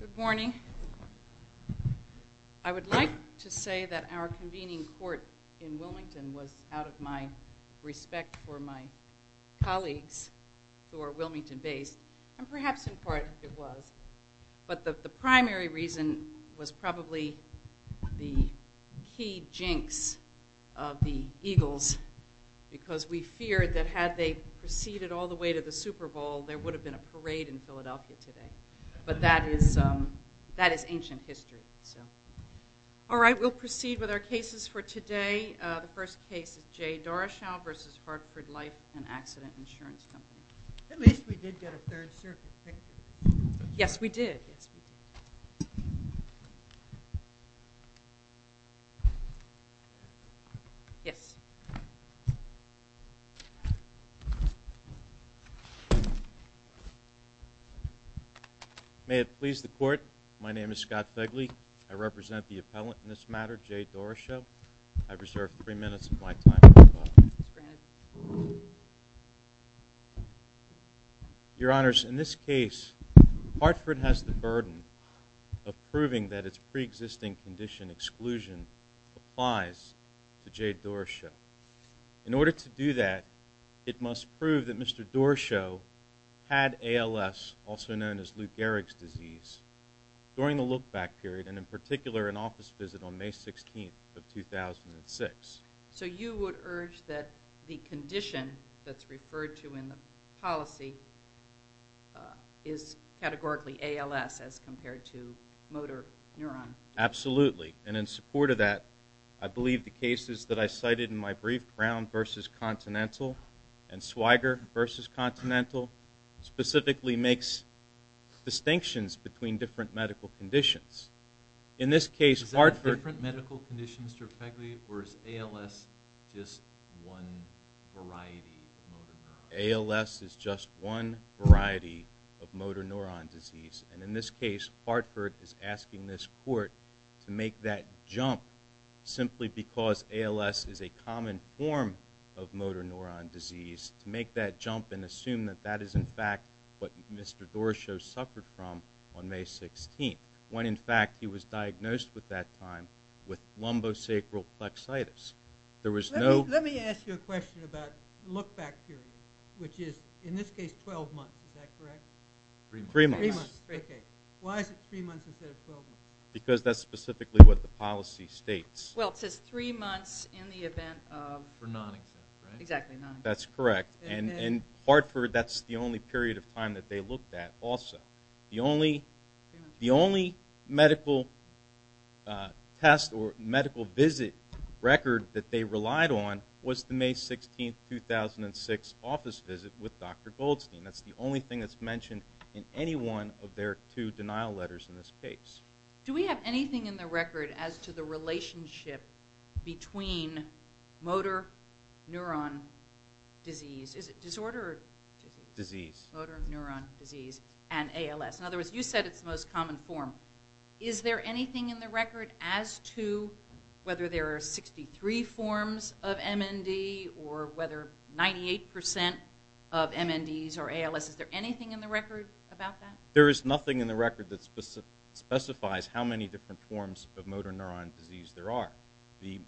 Good morning. I would like to say that our convening court in Wilmington was out of my respect for my colleagues who are Wilmington based, and perhaps in part it was, but the primary reason was probably the key jinx of the Eagles because we feared that had they proceeded all the way to the Super Bowl there would have been a parade in Philadelphia today, but that is ancient history. All right, we'll proceed with our cases for today. The first case is J. Doroshow v. Hartford Life and Accident Insurance Company. At least we did get a third circuit picture. Yes, we did. Yes. May it please the court, my name is Scott Begley. I represent the appellant in this matter, J. Doroshow. I reserve three minutes of my time for the defense. Your Honors, in this case Hartford has the burden of proving that its pre-existing condition exclusion applies to J. Doroshow. In order to do that it must prove that Mr. Doroshow had ALS, also known as Lou Gehrig's disease, during the look-back period and in particular an office visit on May 16th of 2006. So you would urge that the condition that's referred to in the policy is categorically ALS as compared to motor neuron? Absolutely, and in support of that I believe the cases that I cited in my brief, Brown v. Continental and Swigert v. Continental, specifically makes distinctions between different medical conditions. In this case Hartford... Is it different medical conditions, Mr. Begley, or is ALS just one variety of motor neuron? ALS is just one variety of motor neuron disease, and in this case Hartford is a common form of motor neuron disease. To make that jump and assume that that is in fact what Mr. Doroshow suffered from on May 16th, when in fact he was diagnosed with that time with lumbosacral plexitis. There was no... Let me ask you a question about look-back period, which is in this case 12 months, is that correct? Three months. Why is it three months instead of 12 months? Because that's specifically what the policy states. Well, it says three months in the event of... For non-exempt, right? Exactly, non-exempt. That's correct, and Hartford, that's the only period of time that they looked at also. The only medical test or medical visit record that they relied on was the May 16th, 2006 office visit with Dr. Goldstein. That's the only thing that's mentioned in any one of their two denial letters in this case. Do we have anything in the record as to the relationship between motor neuron disease... Is it disorder? Disease. Motor neuron disease and ALS. In other words, you said it's the most common form. Is there anything in the record as to whether there are 63 forms of MND or whether 98% of MNDs or ALS, is there anything in the record about that? There is nothing in the record that specifies how many different forms of motor neuron disease there are. The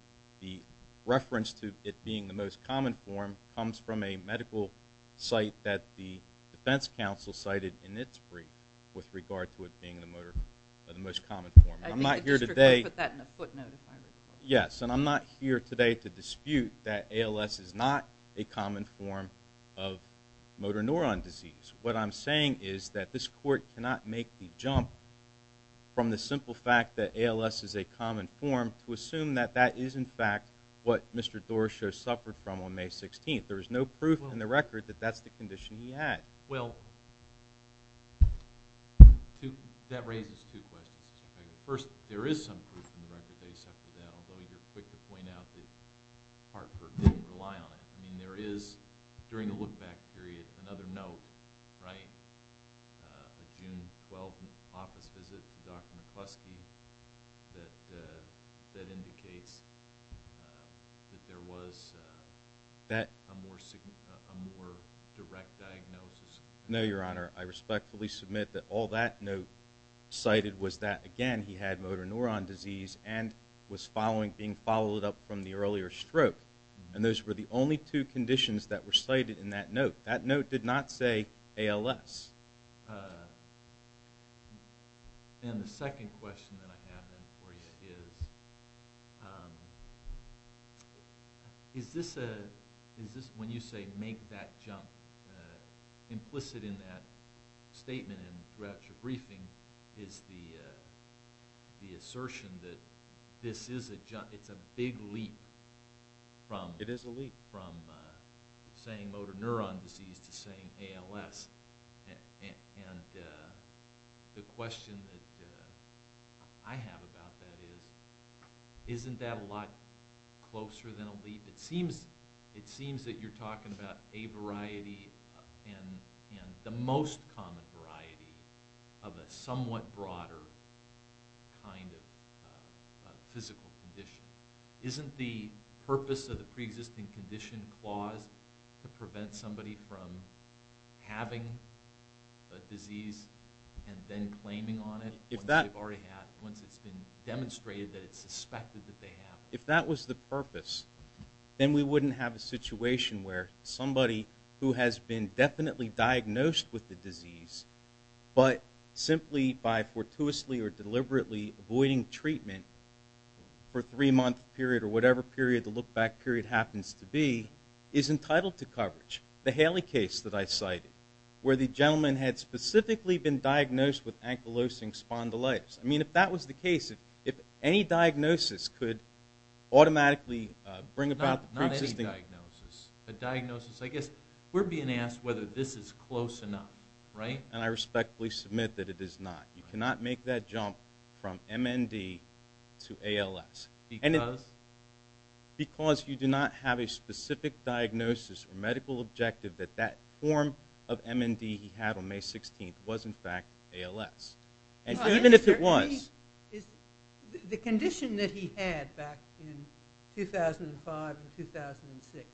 reference to it being the most common form comes from a medical site that the defense counsel cited in its brief with regard to it being the most common form. I'm not here today... I think the district court put that in the footnotice. Yes, and I'm not here today to dispute that ALS is not a common form of motor neuron disease. What I'm saying is that this court cannot make the jump from the simple fact that ALS is a common form to assume that that is in fact what Mr. Doroshow suffered from on May 16th. There is no proof in the record that that's the condition he had. Well, that raises two questions. First, there is some proof in the record that he suffered that, although you're quick to point out that Hartford didn't rely on it. I mean, there is, during the look-back period, another note, right? A June 12th office visit from Dr. McCluskey that indicates that there was a more direct diagnosis. No, Your Honor. I respectfully submit that all that note cited was that, again, he had motor neuron disease and was being followed up from the earlier stroke. And those were the only two conditions that were cited in that note. That note did not say ALS. And the second question that I have then for you is, is this a, is this when you say make that jump, implicit in that statement and throughout your briefing is the assertion that this is a, it's a big leap from saying motor neuron disease to saying ALS. And the question that I have about that is, isn't that a lot closer than a leap? It seems that you're talking about a variety and the most common variety of a somewhat broader kind of physical condition. Isn't the purpose of the pre-existing condition clause to prevent somebody from having a disease and then claiming on it once it's been demonstrated that it's suspected that they have it? If that was the purpose, then we wouldn't have a situation where somebody who has been definitely diagnosed with the disease, but simply by fortuitously or deliberately avoiding treatment for a three-month period or whatever period the look-back period happens to be, is entitled to coverage. The Haley case that I cited, where the gentleman had specifically been diagnosed with ankylosing spondylitis. I mean, if that was the case, if any diagnosis could automatically bring about the pre-existing... Not any diagnosis. A diagnosis, I guess we're being asked whether this is close enough, right? And I respectfully submit that it is not. You cannot make that jump from MND to ALS. Because? Because you do not have a specific diagnosis or medical objective that that form of MND he had on May 16th was in fact ALS. And even if it was... The condition that he had back in 2005 and 2006,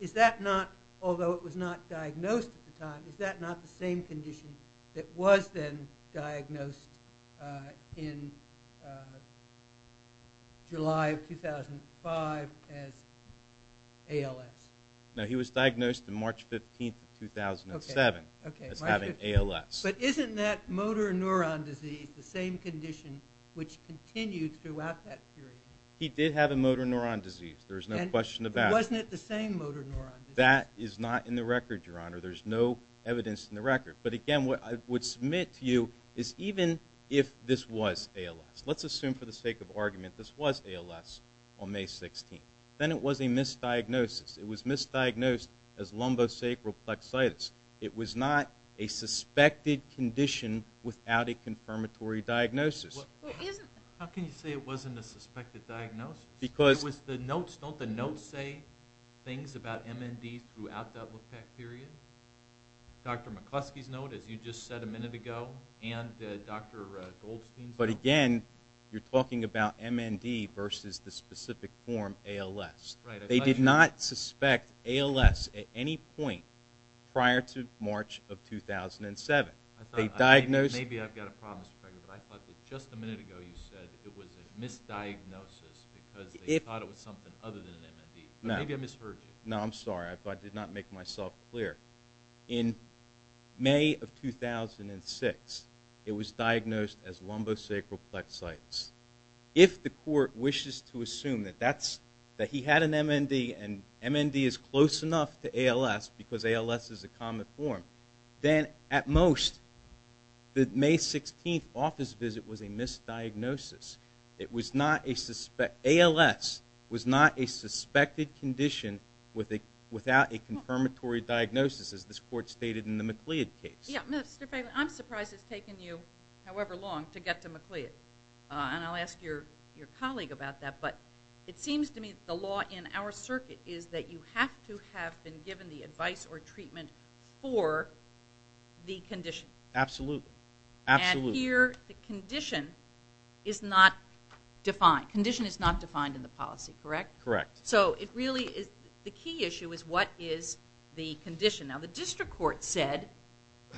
is that not, although it was not diagnosed at the time, is that not the same condition that was then diagnosed in July of 2005 as ALS? No, he was diagnosed on March 15th of 2007 as having ALS. But isn't that motor neuron disease the same condition which continued throughout that period? He did have a motor neuron disease. There's no question about it. Wasn't it the same motor neuron disease? That is not in the record, Your Honor. There's no evidence in the record. But again, what I would submit to you is even if this was ALS, let's assume for the sake of argument this was ALS on May 16th, then it was a misdiagnosis. It was misdiagnosed as lumbosacral plexitis. It was not a suspected condition without a confirmatory diagnosis. How can you say it wasn't a suspected diagnosis? Because... Don't the notes say things about MND throughout that period? Dr. McCluskey's note, as you just said a minute ago, and Dr. Goldstein's note. But again, you're talking about MND versus the specific form ALS. Right. They did not suspect ALS at any point prior to March of 2007. Maybe I've got a problem, Mr. Treger, but I thought that just a minute ago you said it was a misdiagnosis because they thought it was something other than MND. No. Maybe I misheard you. No, I'm sorry. I did not make myself clear. In May of 2006, it was diagnosed as lumbosacral plexitis. If the court wishes to assume that he had an MND and MND is close enough to ALS because ALS is a common form, then at most, the May 16th office visit was a misdiagnosis. ALS was not a suspected condition without a confirmatory diagnosis, as this court stated in the MacLeod case. I'm surprised it's taken you however long to get to MacLeod, and I'll ask your colleague about that, but it seems to me that the law in our circuit is that you have to have been given the advice or treatment for the condition. Absolutely. Absolutely. And here, the condition is not defined. Condition is not defined in the policy, correct? Correct. The key issue is what is the condition. Now, the district court said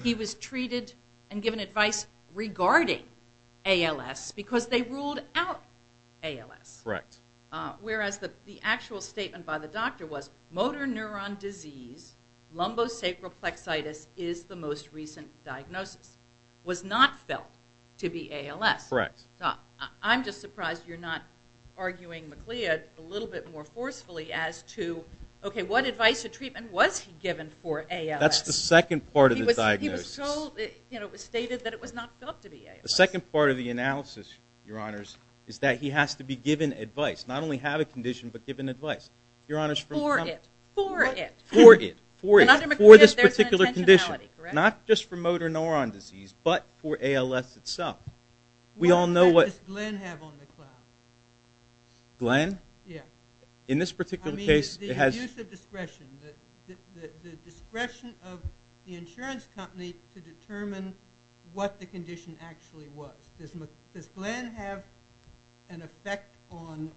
he was treated and given advice regarding ALS because they ruled out ALS. Correct. Whereas the actual statement by the doctor was motor neuron disease, lumbosacral plexitis is the most recent diagnosis. Was not felt to be ALS. Correct. Now, I'm just surprised you're not arguing MacLeod a little bit more forcefully as to, okay, what advice or treatment was he given for ALS? That's the second part of the diagnosis. He was told, you know, it was stated that it was not felt to be ALS. The second part of the analysis, Your Honors, is that he has to be given advice, not only have a condition, but given advice. For it. For it. For it. For it. And under MacLeod, there's an intentionality, correct? Not just for motor neuron disease, but for ALS itself. We all know what... What does Glenn have on MacLeod? Glenn? Yeah. In this particular case, it has... I mean, the use of discretion, the discretion of the insurance company to determine what the condition actually was. Does Glenn have an effect on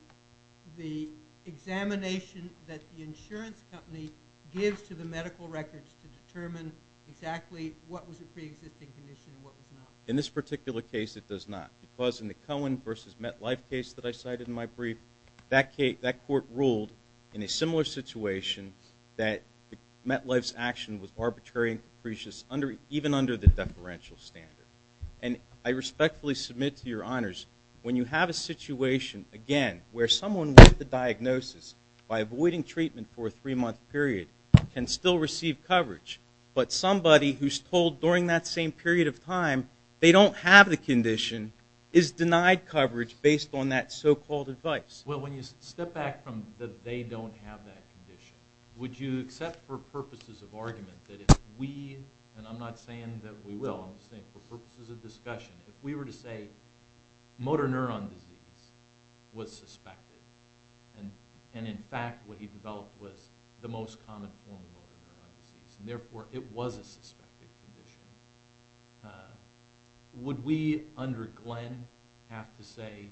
the examination that the insurance company gives to the medical records to determine exactly what was a pre-existing condition and what was not? In this particular case, it does not. Because in the Cohen versus MetLife case that I cited in my brief, that court ruled in a similar situation that MetLife's action was arbitrary and capricious, even under the deferential standard. And I respectfully submit to Your Honors, when you have a situation, again, where someone with the diagnosis, by avoiding treatment for a three-month period, can still receive coverage. But somebody who's told during that same period of time they don't have the condition is denied coverage based on that so-called advice. Well, when you step back from that they don't have that condition, would you accept for purposes of argument that if we... And I'm not saying that we will. I'm just saying for purposes of discussion, if we were to say motor neuron disease was suspected, and in fact what he developed was the most common form of motor neuron disease, and therefore it was a suspected condition, would we under Glenn have to say,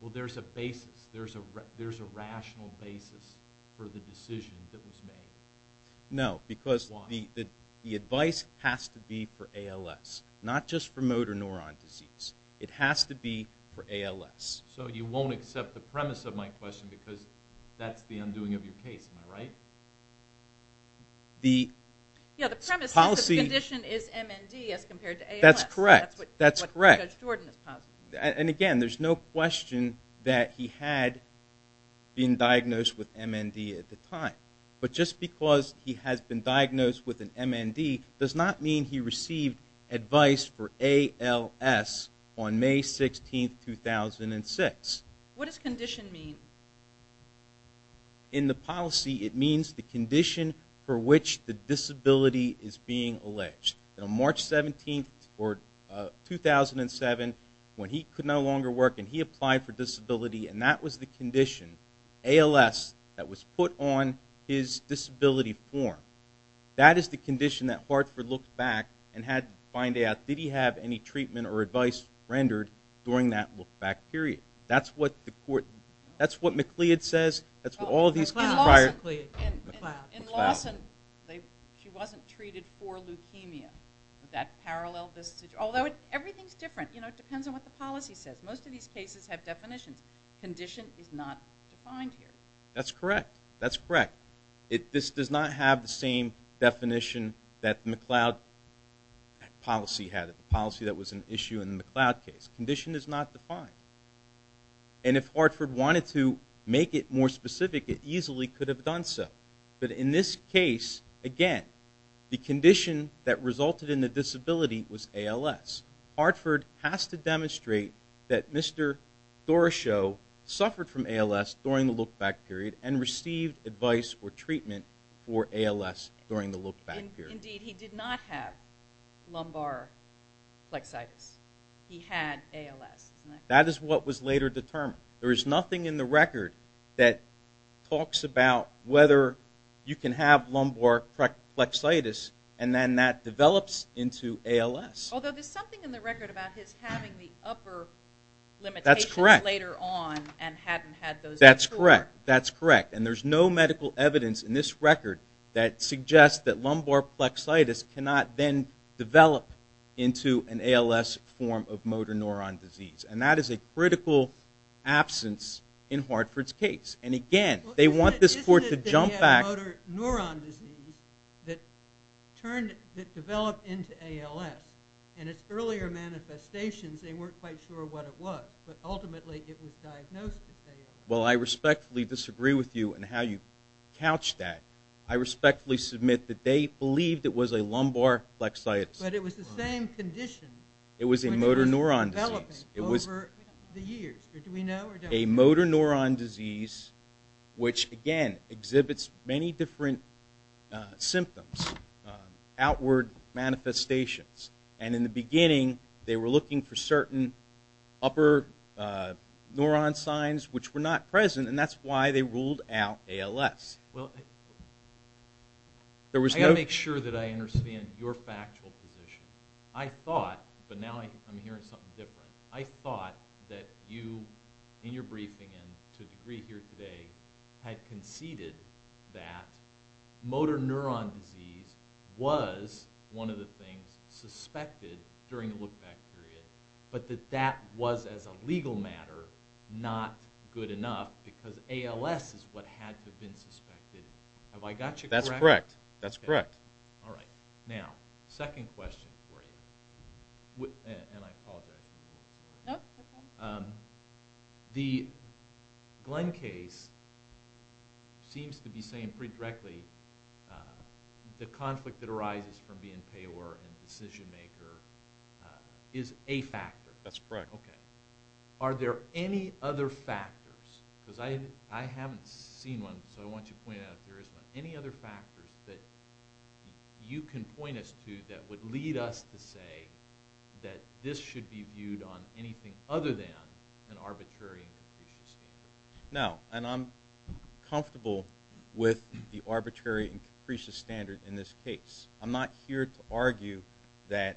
well, there's a basis, there's a rational basis for the decision that was made? No. Why? Because the advice has to be for ALS, not just for motor neuron disease. It has to be for ALS. So you won't accept the premise of my question because that's the undoing of your case, am I right? Yeah, the premise is the condition is MND as compared to ALS. That's correct. That's what Judge Jordan is positing. And again, there's no question that he had been diagnosed with MND at the time. But just because he has been diagnosed with an MND does not mean he received advice for What does condition mean? In the policy, it means the condition for which the disability is being alleged. On March 17, 2007, when he could no longer work and he applied for disability, and that was the condition, ALS, that was put on his disability form. That is the condition that Hartford looked back and had to find out, did he have any rendered during that look back period. That's what McCleod says. In Lawson, she wasn't treated for leukemia. Is that parallel? Although everything is different. It depends on what the policy says. Most of these cases have definitions. Condition is not defined here. That's correct. That's correct. This does not have the same definition that McCleod policy had. The policy that was an issue in the McCleod case. Condition is not defined. And if Hartford wanted to make it more specific, it easily could have done so. But in this case, again, the condition that resulted in the disability was ALS. Hartford has to demonstrate that Mr. Doroshow suffered from ALS during the look back period and received advice or treatment for ALS during the look back period. Indeed, he did not have lumbar plexitis. He had ALS. That is what was later determined. There is nothing in the record that talks about whether you can have lumbar plexitis and then that develops into ALS. Although there's something in the record about his having the upper limitations later on and hadn't had those before. That's correct. That's correct. And there's no medical evidence in this record that suggests that lumbar plexitis cannot then develop into an ALS form of motor neuron disease. And that is a critical absence in Hartford's case. And again, they want this court to jump back. Isn't it that he had motor neuron disease that developed into ALS? And its earlier manifestations, they weren't quite sure what it was. But ultimately, it was diagnosed as ALS. Well, I respectfully disagree with you in how you couched that. I respectfully submit that they believed it was a lumbar plexitis. But it was the same condition. It was a motor neuron disease. Over the years. Do we know or don't we know? A motor neuron disease which, again, exhibits many different symptoms, outward manifestations. And in the beginning, they were looking for certain upper neuron signs which were not present. And that's why they ruled out ALS. Well, I've got to make sure that I understand your factual position. I thought, but now I'm hearing something different. I thought that you, in your briefing and to a degree here today, had conceded that motor neuron disease was one of the things suspected during the look-back period. But that that was, as a legal matter, not good enough. Because ALS is what had to have been suspected. Have I got you correct? That's correct. That's correct. All right. Now, second question for you. And I apologize. No, that's fine. The Glenn case seems to be saying pretty directly the conflict that arises from being payor and decision-maker is a factor. That's correct. Okay. Are there any other factors? Because I haven't seen one, so I want you to point it out if there is one. that you can point us to that would lead us to say that this should be viewed on anything other than an arbitrary and capricious standard? No. And I'm comfortable with the arbitrary and capricious standard in this case. I'm not here to argue that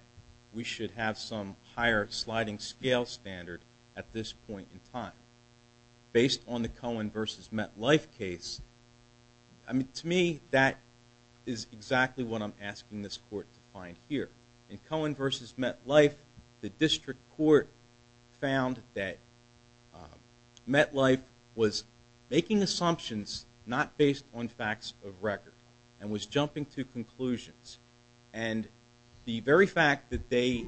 we should have some higher sliding scale standard at this point in time. Based on the Cohen v. Metlife case, to me, that is exactly what I'm asking this court to find here. In Cohen v. Metlife, the district court found that Metlife was making assumptions not based on facts of record and was jumping to conclusions. And the very fact that they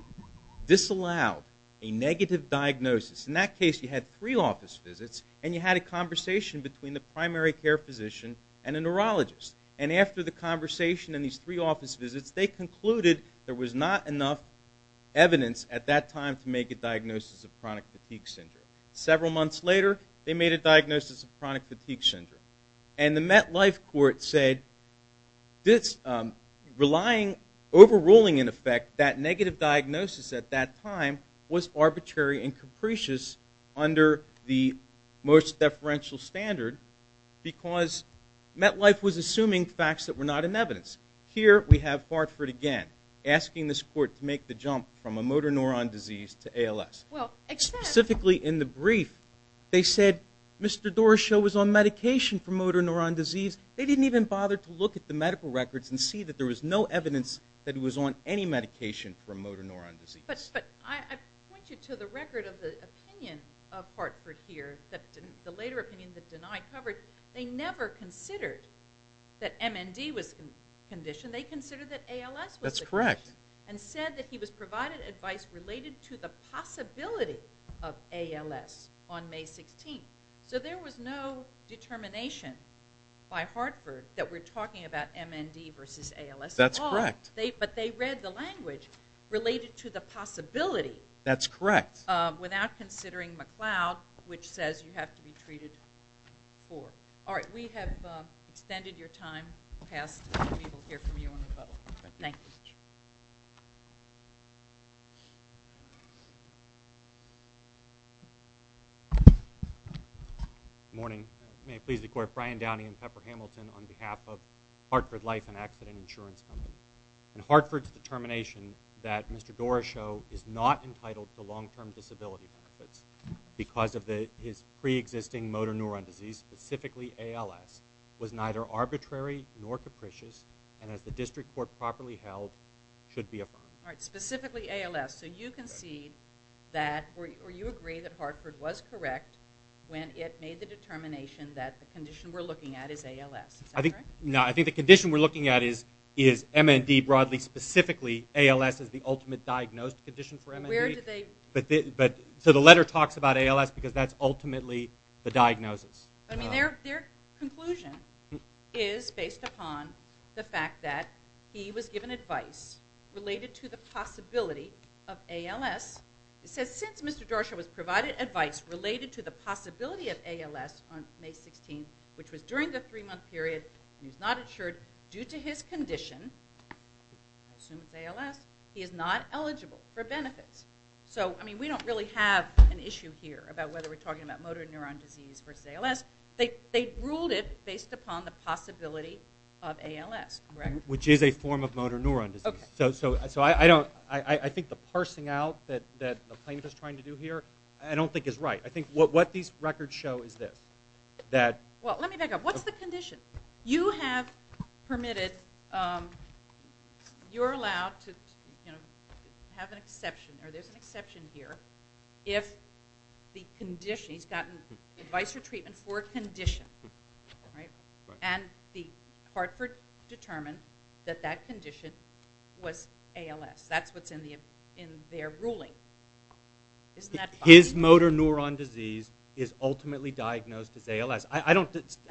disallowed a negative diagnosis, in that case you had three office visits and you had a conversation between the primary care physician and a neurologist. And after the conversation and these three office visits, they concluded there was not enough evidence at that time to make a diagnosis of chronic fatigue syndrome. Several months later, they made a diagnosis of chronic fatigue syndrome. And the Metlife court said overruling, in effect, that negative diagnosis at that time was arbitrary and capricious under the most deferential standard because Metlife was assuming facts that were not in evidence. Here we have Hartford again asking this court to make the jump from a motor neuron disease to ALS. Specifically in the brief, they said Mr. Doroshow was on medication for motor neuron disease. They didn't even bother to look at the medical records and see that there was no evidence that he was on any medication for motor neuron disease. But I point you to the record of the opinion of Hartford here, the later opinion that denied coverage. They never considered that MND was a condition. They considered that ALS was a condition. That's correct. And said that he was provided advice related to the possibility of ALS on May 16th. So there was no determination by Hartford that we're talking about MND versus ALS at all. That's correct. But they read the language related to the possibility. That's correct. Without considering McLeod, which says you have to be treated for. All right. We have extended your time past and we will hear from you on the phone. Thank you. Good morning. May it please the court, Brian Downey and Pepper Hamilton on behalf of Hartford Life and Accident Insurance Company. In Hartford's determination that Mr. Doroshow is not entitled to long-term disability benefits because of his pre-existing motor neuron disease, specifically ALS, was neither arbitrary nor capricious and as the district court properly held, should be abided. All right. Specifically ALS. So you concede that or you agree that Hartford was correct when it made the determination that the condition we're looking at is ALS. Is that correct? No. I think the condition we're looking at is MND broadly, specifically ALS is the ultimate diagnosed condition for MND. Where did they? So the letter talks about ALS because that's ultimately the diagnosis. I mean their conclusion is based upon the fact that he was given advice related to the possibility of ALS. It says since Mr. Doroshow was provided advice related to the possibility of ALS on May 16th, which was during the three-month period and he's not insured due to his condition, I assume it's ALS, he is not eligible for benefits. So I mean we don't really have an issue here about whether we're talking about motor neuron disease versus ALS. They ruled it based upon the possibility of ALS, correct? Which is a form of motor neuron disease. Okay. So I think the parsing out that the plaintiff is trying to do here I don't think is right. I think what these records show is this. Well, let me back up. What's the condition? You have permitted, you're allowed to have an exception or there's an exception here if the condition, he's gotten advice or treatment for a condition, right? And Hartford determined that that condition was ALS. That's what's in their ruling. Isn't that right? His motor neuron disease is ultimately diagnosed as ALS. I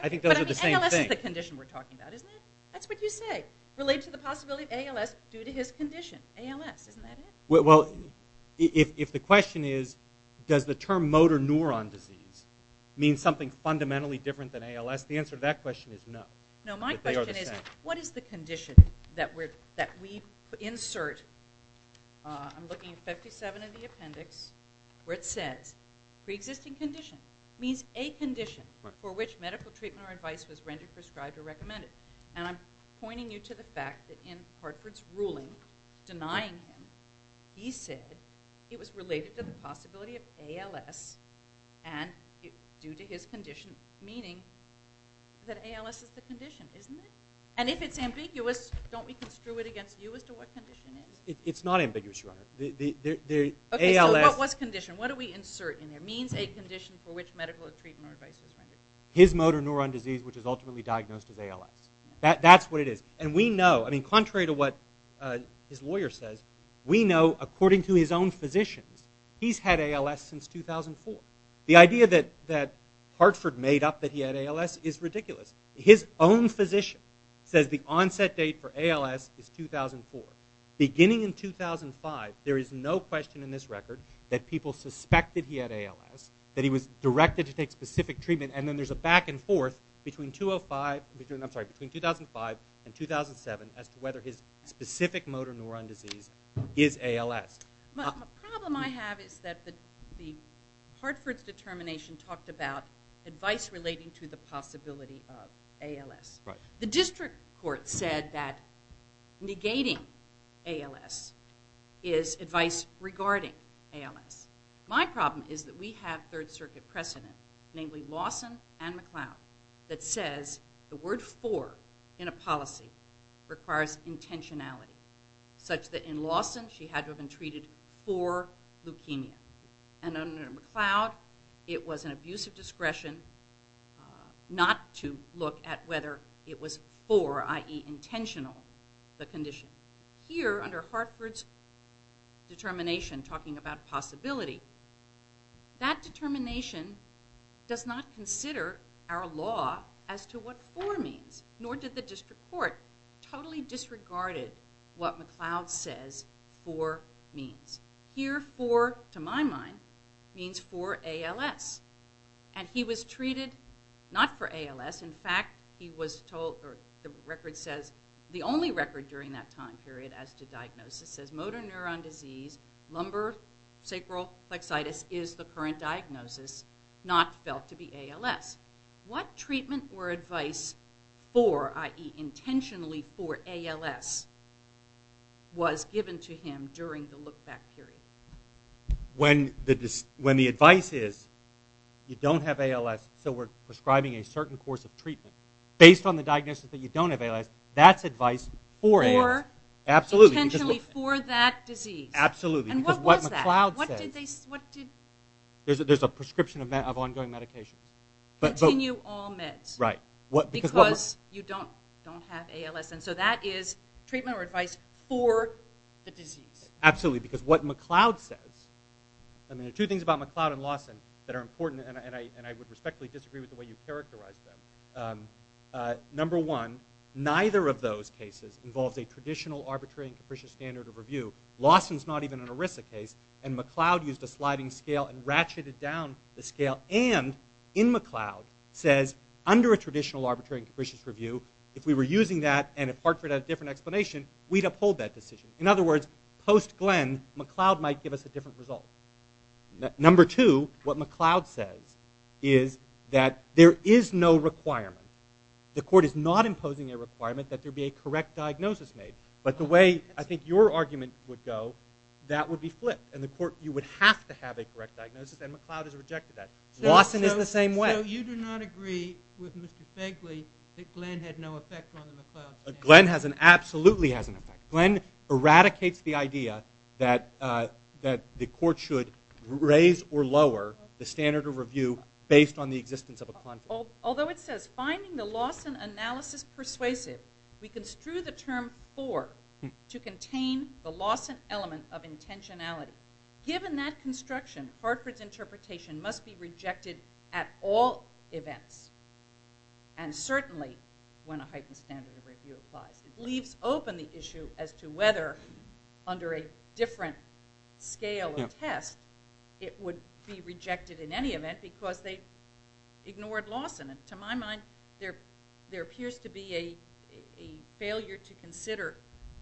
think those are the same thing. But ALS is the condition we're talking about, isn't it? That's what you say. Related to the possibility of ALS due to his condition, ALS. Isn't that it? Well, if the question is does the term motor neuron disease mean something fundamentally different than ALS, the answer to that question is no. No, my question is what is the condition that we insert? I'm looking at 57 of the appendix where it says preexisting condition. It means a condition for which medical treatment or advice was rendered prescribed or recommended. And I'm pointing you to the fact that in Hartford's ruling denying him, he said it was related to the possibility of ALS and due to his condition meaning that ALS is the condition, isn't it? And if it's ambiguous, don't we construe it against you as to what condition it is? It's not ambiguous, Your Honor. Okay, so what's condition? What do we insert in there? It means a condition for which medical treatment or advice was rendered. His motor neuron disease, which is ultimately diagnosed as ALS. That's what it is. And we know, I mean, contrary to what his lawyer says, we know according to his own physicians, he's had ALS since 2004. The idea that Hartford made up that he had ALS is ridiculous. His own physician says the onset date for ALS is 2004. Beginning in 2005, there is no question in this record that people suspected he had ALS, that he was directed to take specific treatment, and then there's a back and forth between 2005 and 2007 as to whether his specific motor neuron disease is ALS. The problem I have is that Hartford's determination talked about advice relating to the possibility of ALS. The district court said that negating ALS is advice regarding ALS. My problem is that we have Third Circuit precedent, namely Lawson and McLeod, that says the word for in a policy requires intentionality, such that in Lawson, she had to have been treated for leukemia. And under McLeod, it was an abuse of discretion not to look at whether it was for, i.e. intentional, the condition. Here, under Hartford's determination talking about possibility, that determination does not consider our law as to what for means, nor did the district court totally disregarded what McLeod says for means. Here, for, to my mind, means for ALS. And he was treated not for ALS. In fact, the only record during that time period as to diagnosis says motor neuron disease, lumbar sacral plexitis is the current diagnosis, not felt to be ALS. What treatment or advice for, i.e. intentionally for, ALS was given to him during the look-back period? When the advice is you don't have ALS, so we're prescribing a certain course of treatment, based on the diagnosis that you don't have ALS, that's advice for ALS. Or intentionally for that disease. Absolutely. And what was that? Because what McLeod says, there's a prescription of ongoing medication. Continue all meds. Right. Because you don't have ALS. And so that is treatment or advice for the disease. Absolutely. Because what McLeod says, I mean there are two things about McLeod and Lawson that are important, and I would respectfully disagree with the way you characterize them. Number one, neither of those cases involves a traditional arbitrary and capricious standard of review. Lawson's not even an ERISA case, and McLeod used a sliding scale and ratcheted down the scale, and in McLeod says under a traditional arbitrary and capricious review, if we were using that and Hartford had a different explanation, we'd uphold that decision. In other words, post Glenn, McLeod might give us a different result. Number two, what McLeod says is that there is no requirement. The court is not imposing a requirement that there be a correct diagnosis made. But the way I think your argument would go, that would be flipped. In the court, you would have to have a correct diagnosis, and McLeod has rejected that. Lawson is the same way. So you do not agree with Mr. Fegley that Glenn had no effect on the McLeod standard? Glenn absolutely has an effect. Glenn eradicates the idea that the court should raise or lower the standard of review based on the existence of a conflict. Although it says, finding the Lawson analysis persuasive, we construe the term poor to contain the Lawson element of intentionality. Given that construction, Hartford's interpretation must be rejected at all events, and certainly when a heightened standard of review applies. It leaves open the issue as to whether under a different scale or test, it would be rejected in any event because they ignored Lawson. To my mind, there appears to be a failure to consider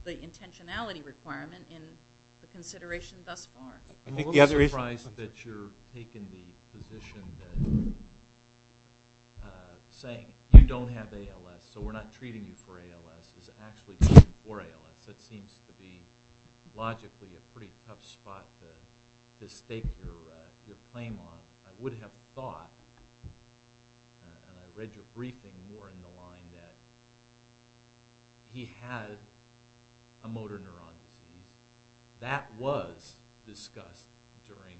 the intentionality requirement in the consideration thus far. I'm a little surprised that you're taking the position that saying you don't have ALS, so we're not treating you for ALS, is actually treating you for ALS. That seems to be logically a pretty tough spot to stake your claim on. I would have thought, and I read your briefing more in the line, that he had a motor neuron disease. That was discussed during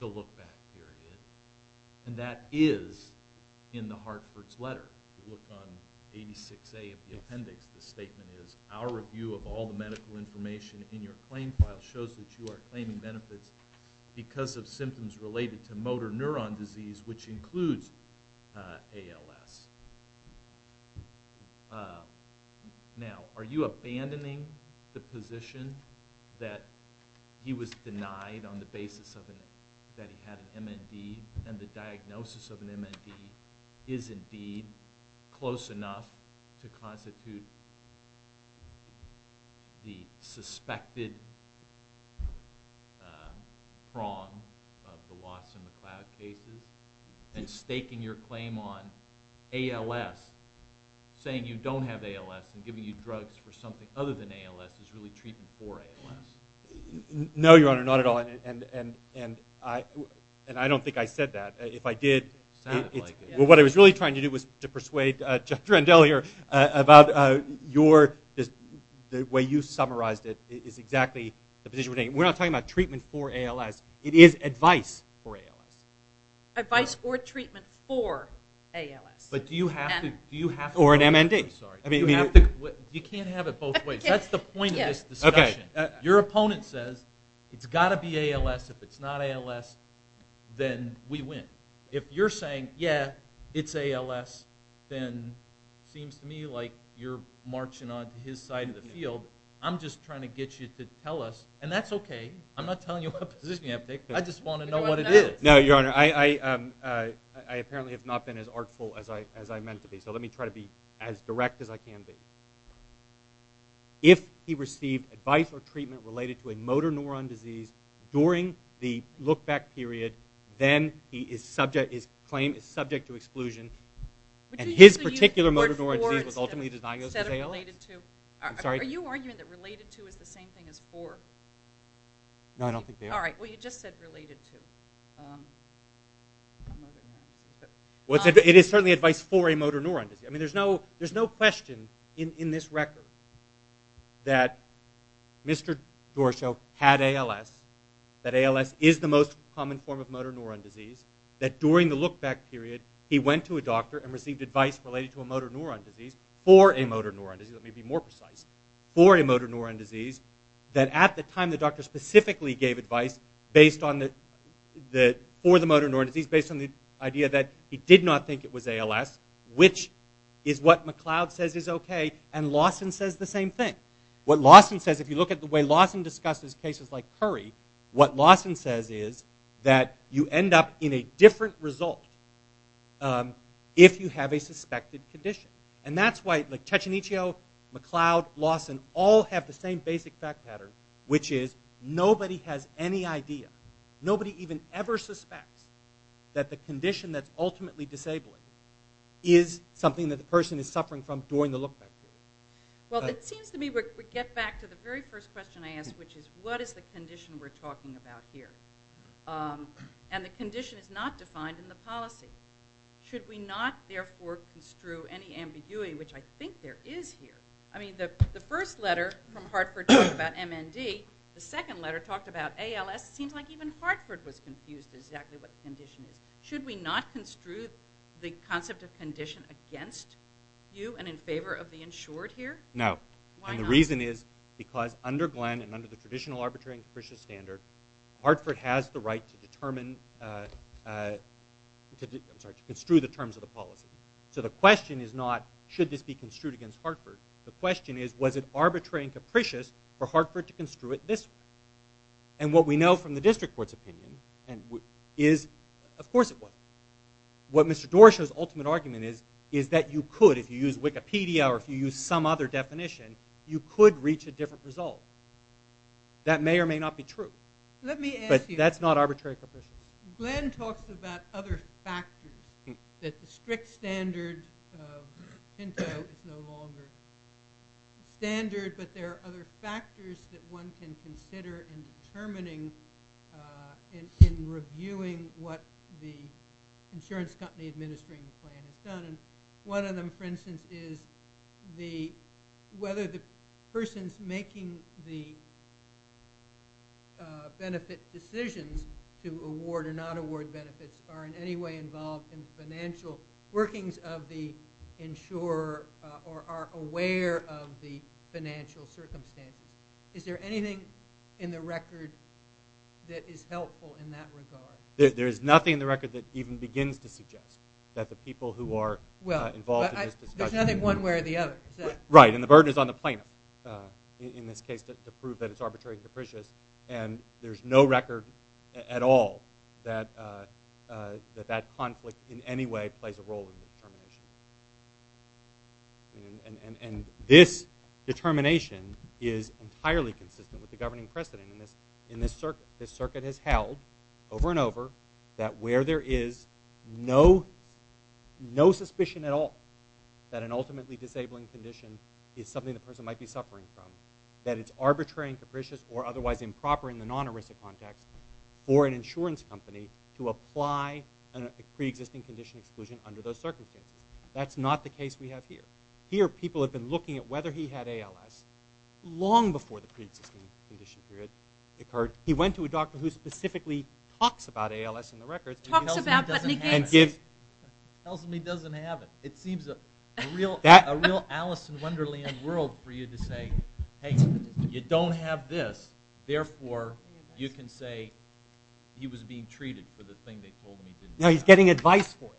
the look-back period, and that is in the Hartford's letter. We looked on 86A of the appendix. The statement is, our review of all the medical information in your claim file shows that you are claiming benefits because of symptoms related to motor neuron disease, which includes ALS. Now, are you abandoning the position that he was denied on the basis that he had an MND, and the diagnosis of an MND is indeed close enough to constitute the suspected prong of the Lawson-McLeod cases, and staking your claim on ALS, saying you don't have ALS, and giving you drugs for something other than ALS is really treating for ALS? No, Your Honor, not at all. And I don't think I said that. If I did, what I was really trying to do was to persuade Dr. Endell here about your, the way you summarized it is exactly the position we're taking. We're not talking about treatment for ALS. It is advice for ALS. Advice or treatment for ALS. Or an MND. You can't have it both ways. That's the point of this discussion. Your opponent says it's got to be ALS. If it's not ALS, then we win. If you're saying, yeah, it's ALS, then it seems to me like you're marching on his side of the field. I'm just trying to get you to tell us, and that's okay. I'm not telling you what position you have to take. I just want to know what it is. No, Your Honor, I apparently have not been as artful as I meant to be, so let me try to be as direct as I can be. If he received advice or treatment related to a motor neuron disease during the look-back period, then his claim is subject to exclusion. And his particular motor neuron disease was ultimately diagnosed with ALS? Are you arguing that related to is the same thing as for? No, I don't think they are. All right, well, you just said related to. It is certainly advice for a motor neuron disease. I mean, there's no question in this record that Mr. Dorshow had ALS, that ALS is the most common form of motor neuron disease, that during the look-back period he went to a doctor and received advice related to a motor neuron disease for a motor neuron disease, let me be more precise, for a motor neuron disease, that at the time the doctor specifically gave advice for the motor neuron disease based on the idea that he did not think it was ALS, which is what McLeod says is okay, and Lawson says the same thing. What Lawson says, if you look at the way Lawson discusses cases like Curry, what Lawson says is that you end up in a different result if you have a suspected condition. And that's why, like, Cecchinichio, McLeod, Lawson all have the same basic fact pattern, which is nobody has any idea, nobody even ever suspects that the condition that's ultimately disabled is something that the person is suffering from during the look-back period. Well, it seems to me we get back to the very first question I asked, which is what is the condition we're talking about here? And the condition is not defined in the policy. Should we not, therefore, construe any ambiguity, which I think there is here. I mean, the first letter from Hartford talked about MND. The second letter talked about ALS. It seems like even Hartford was confused as to exactly what the condition is. Should we not construe the concept of condition against you and in favor of the insured here? No. Why not? And the reason is because under Glenn and under the traditional arbitration standard, Hartford has the right to determine, I'm sorry, to construe the terms of the policy. So the question is not, should this be construed against Hartford? The question is, was it arbitrary and capricious for Hartford to construe it this way? And what we know from the district court's opinion is, of course it wasn't. What Mr. Doroshow's ultimate argument is, is that you could, if you use Wikipedia or if you use some other definition, you could reach a different result. That may or may not be true. But that's not arbitrary and capricious. Glenn talks about other factors, that the strict standard of Pinto is no longer standard, but there are other factors that one can consider in determining and in reviewing what the insurance company administering the plan has done. One of them, for instance, is whether the person making the benefit decisions to award or not award benefits are in any way involved in financial workings of the insurer or are aware of the financial circumstances. Is there anything in the record that is helpful in that regard? There is nothing in the record that even begins to suggest that the people who are involved in this discussion There's nothing one way or the other, is there? Right, and the burden is on the plaintiff in this case to prove that it's arbitrary and capricious. And there's no record at all that that conflict in any way plays a role in the determination. And this determination is entirely consistent with the governing precedent. And this circuit has held over and over that where there is no suspicion at all that an ultimately disabling condition is something the person might be suffering from, that it's arbitrary and capricious or otherwise improper in the non-ERISA context for an insurance company to apply a pre-existing condition exclusion under those circumstances. That's not the case we have here. Here people have been looking at whether he had ALS long before the pre-existing condition period occurred. He went to a doctor who specifically talks about ALS in the record. Talks about it but negates it. Tells him he doesn't have it. It seems a real Alice in Wonderland world for you to say, hey, you don't have this, therefore you can say he was being treated for the thing they told him he didn't have. No, he's getting advice for it.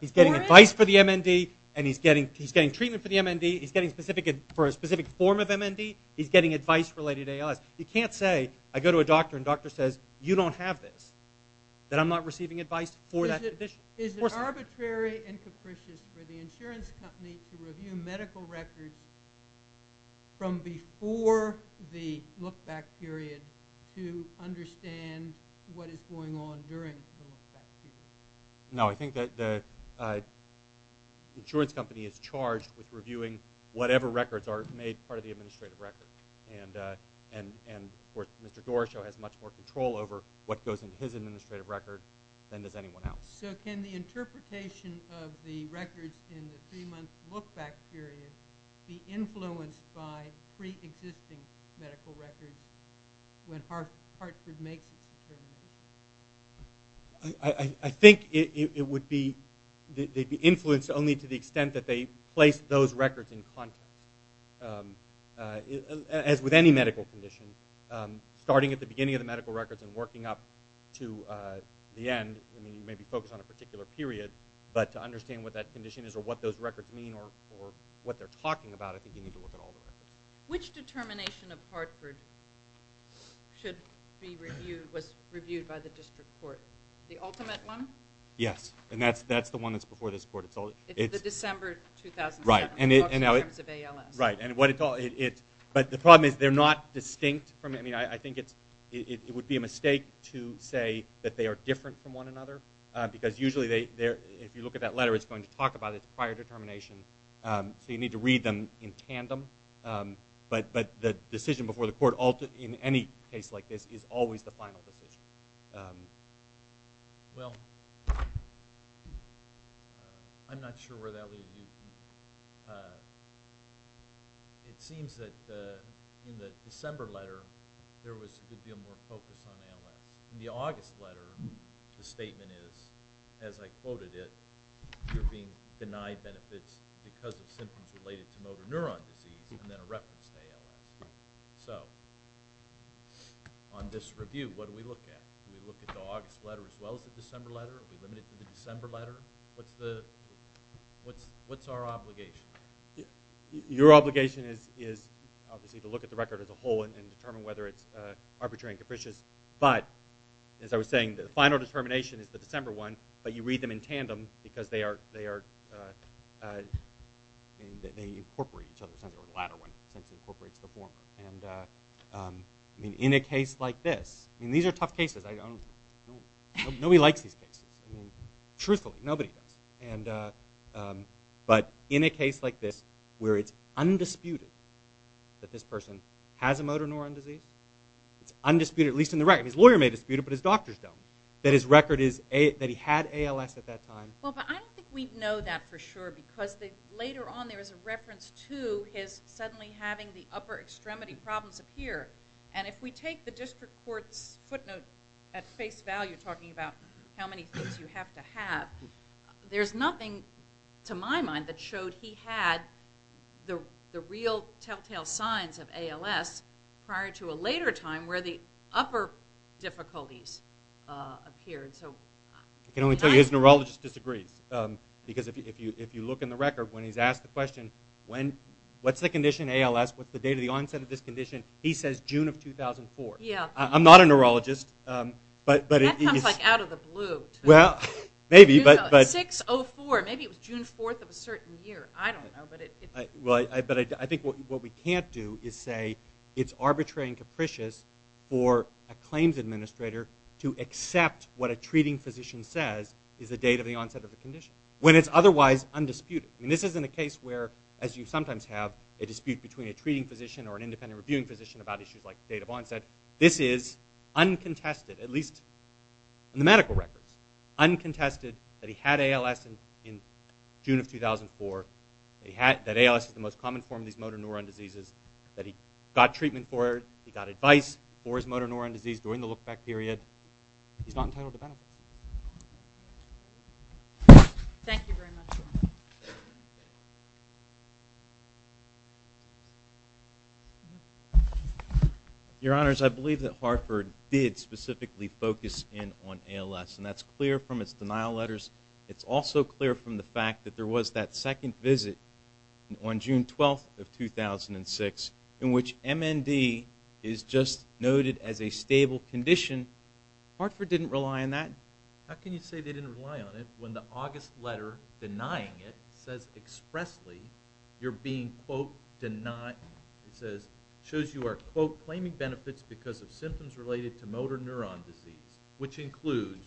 He's getting advice for the MND and he's getting treatment for the MND. He's getting specific for a specific form of MND. He's getting advice related to ALS. You can't say I go to a doctor and the doctor says you don't have this, that I'm not receiving advice for that condition. Is it arbitrary and capricious for the insurance company to review medical records from before the look-back period to understand what is going on during the look-back period? No, I think the insurance company is charged with reviewing whatever records are made part of the administrative record. And, of course, Mr. Doroshow has much more control over what goes into his administrative record than does anyone else. So can the interpretation of the records in the three-month look-back period be influenced by pre-existing medical records when Hartford makes its decision? I think it would be influenced only to the extent that they place those records in context. As with any medical condition, starting at the beginning of the medical records and working up to the end, you may be focused on a particular period, but to understand what that condition is or what those records mean or what they're talking about, I think you need to look at all the records. Which determination of Hartford was reviewed by the district court? The ultimate one? Yes, and that's the one that's before this court. It's the December 2007, in terms of ALS. Right, but the problem is they're not distinct. I think it would be a mistake to say that they are different from one another because usually if you look at that letter, it's going to talk about its prior determination. So you need to read them in tandem, but the decision before the court in any case like this is always the final decision. Well, I'm not sure where that leaves you. It seems that in the December letter, there was a good deal more focus on ALS. In the August letter, the statement is, as I quoted it, you're being denied benefits because of symptoms related to motor neuron disease and then a reference to ALS. So on this review, what do we look at? Do we look at the August letter as well as the December letter? Are we limited to the December letter? What's our obligation? Your obligation is obviously to look at the record as a whole and determine whether it's arbitrary and capricious, but as I was saying, the final determination is the December one, but you read them in tandem because they incorporate each other. The latter one essentially incorporates the former. In a case like this, these are tough cases. Nobody likes these cases. Truthfully, nobody does. But in a case like this where it's undisputed that this person has a motor neuron disease, it's undisputed, at least in the record. His lawyer may dispute it, but his doctors don't. But his record is that he had ALS at that time. Well, but I don't think we know that for sure because later on there was a reference to his suddenly having the upper extremity problems appear. And if we take the district court's footnote at face value talking about how many things you have to have, there's nothing to my mind that showed he had the real telltale signs of ALS prior to a later time where the upper difficulties appeared. I can only tell you his neurologist disagrees because if you look in the record when he's asked the question, what's the condition of ALS, what's the date of the onset of this condition, he says June of 2004. I'm not a neurologist. That comes out of the blue. Well, maybe. 6-04, maybe it was June 4th of a certain year. I don't know. But I think what we can't do is say it's arbitrary and capricious for a claims administrator to accept what a treating physician says is the date of the onset of a condition when it's otherwise undisputed. This isn't a case where, as you sometimes have, a dispute between a treating physician or an independent reviewing physician about issues like the date of onset. This is uncontested, at least in the medical records, uncontested that he had ALS in June of 2004, that ALS is the most common form of these motor neurone diseases, that he got treatment for it, he got advice for his motor neurone disease during the look-back period. He's not entitled to benefit. Thank you very much. Your Honors, I believe that Hartford did specifically focus in on ALS, and that's clear from its denial letters. It's also clear from the fact that there was that second visit on June 12th of 2006 in which MND is just noted as a stable condition. Hartford didn't rely on that. How can you say they didn't rely on it when the August letter denying it says expressly you're being, quote, denied, it shows you are, quote, claiming benefits because of symptoms related to motor neurone disease, which include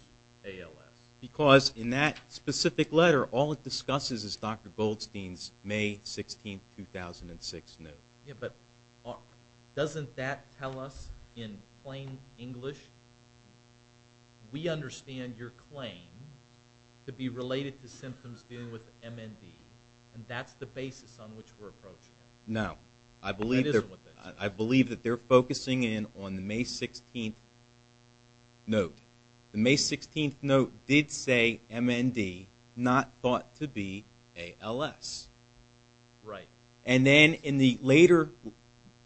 ALS. Because in that specific letter, all it discusses is Dr. Goldstein's May 16th, 2006 note. Yeah, but doesn't that tell us in plain English, we understand your claim to be related to symptoms dealing with MND, and that's the basis on which we're approaching it. No, I believe that they're focusing in on the May 16th note. The May 16th note did say MND, not thought to be ALS. Right. And then in the later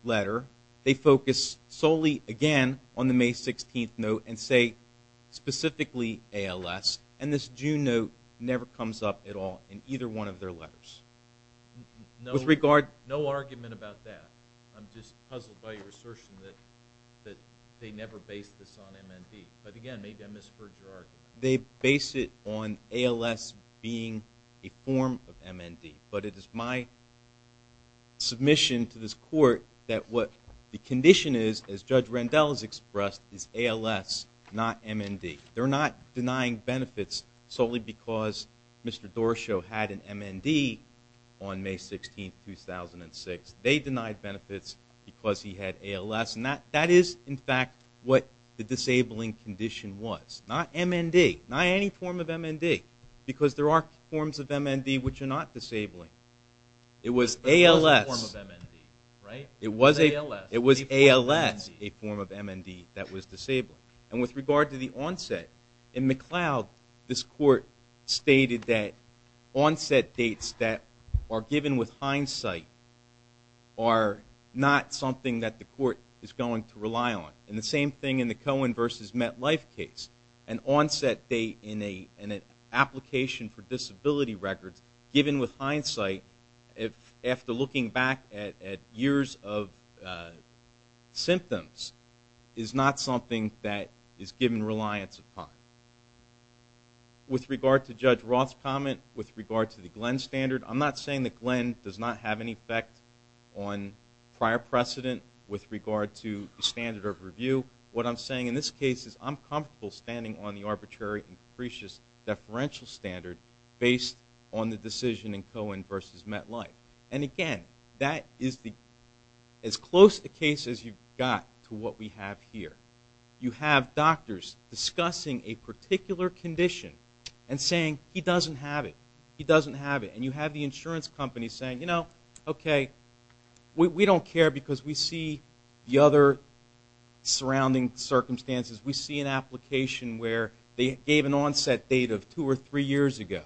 letter, they focus solely again on the May 16th note and say specifically ALS, and this June note never comes up at all in either one of their letters. No argument about that. I'm just puzzled by your assertion that they never based this on MND. But, again, maybe I misheard your argument. They base it on ALS being a form of MND, but it is my submission to this court that what the condition is, as Judge Randell has expressed, is ALS, not MND. They're not denying benefits solely because Mr. Dorshow had an MND on May 16th, 2006. They denied benefits because he had ALS, and that is, in fact, what the disabling condition was. Not MND, not any form of MND, because there are forms of MND which are not disabling. It was a form of MND, right? It was ALS. It was ALS, a form of MND that was disabling. And with regard to the onset, in McLeod, this court stated that onset dates that are given with hindsight are not something that the court is going to rely on. And the same thing in the Cohen v. MetLife case. An onset date in an application for disability records given with hindsight, after looking back at years of symptoms, is not something that is given reliance upon. With regard to Judge Roth's comment, with regard to the Glenn Standard, I'm not saying that Glenn does not have an effect on prior precedent with regard to the standard of review. What I'm saying in this case is I'm comfortable standing on the arbitrary and capricious deferential standard based on the decision in Cohen v. MetLife. And again, that is as close a case as you've got to what we have here. You have doctors discussing a particular condition and saying, he doesn't have it, he doesn't have it. And you have the insurance company saying, you know, okay, we don't care because we see the other surrounding circumstances. We see an application where they gave an onset date of two or three years ago.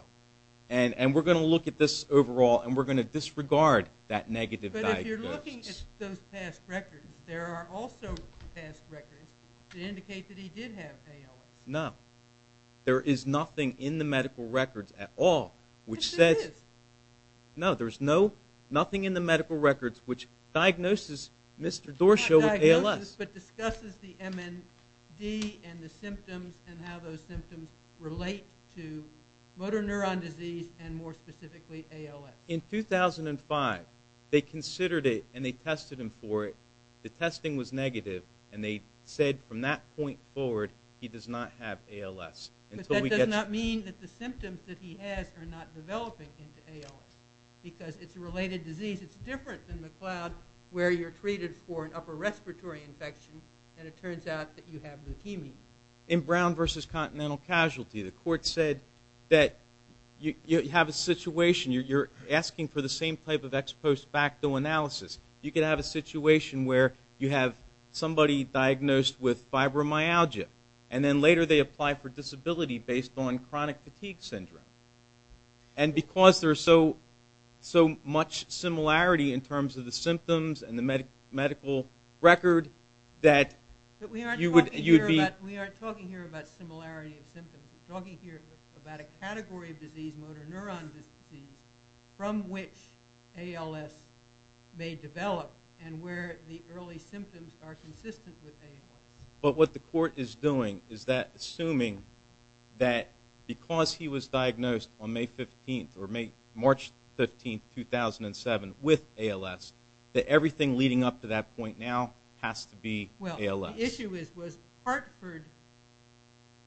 And we're going to look at this overall and we're going to disregard that negative diagnosis. But if you're looking at those past records, there are also past records that indicate that he did have ALS. No. There is nothing in the medical records at all which says. Yes, there is. No, there's nothing in the medical records which diagnoses Mr. Dorshow with ALS. Not diagnoses, but discusses the MND and the symptoms and how those symptoms relate to motor neuron disease and, more specifically, ALS. In 2005, they considered it and they tested him for it. The testing was negative and they said from that point forward, he does not have ALS. But that does not mean that the symptoms that he has are not developing into ALS because it's a related disease. It's different than the cloud where you're treated for an upper respiratory infection and it turns out that you have leukemia. In Brown versus Continental Casualty, the court said that you have a situation. You're asking for the same type of ex post facto analysis. You can have a situation where you have somebody diagnosed with fibromyalgia and then later they apply for disability based on chronic fatigue syndrome. And because there's so much similarity in terms of the symptoms and the medical record that you would be- But we aren't talking here about similarity of symptoms. We're talking here about a category of disease, motor neuron disease, from which ALS may develop and where the early symptoms are consistent with ALS. But what the court is doing is that assuming that because he was diagnosed on May 15th or March 15th, 2007 with ALS, that everything leading up to that point now has to be ALS. Well, the issue was Hartford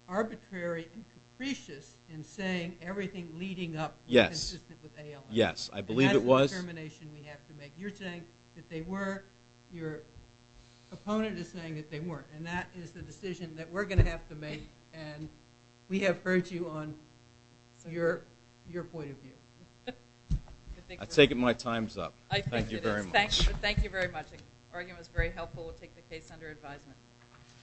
arbitrary and capricious in saying everything leading up was consistent with ALS. Yes, I believe it was. And that is the determination we have to make. You're saying that they were. Your opponent is saying that they weren't. And that is the decision that we're going to have to make. And we have heard you on your point of view. I take it my time's up. I think it is. Thank you very much. Thank you very much. The argument was very helpful. We'll take the case under advisement.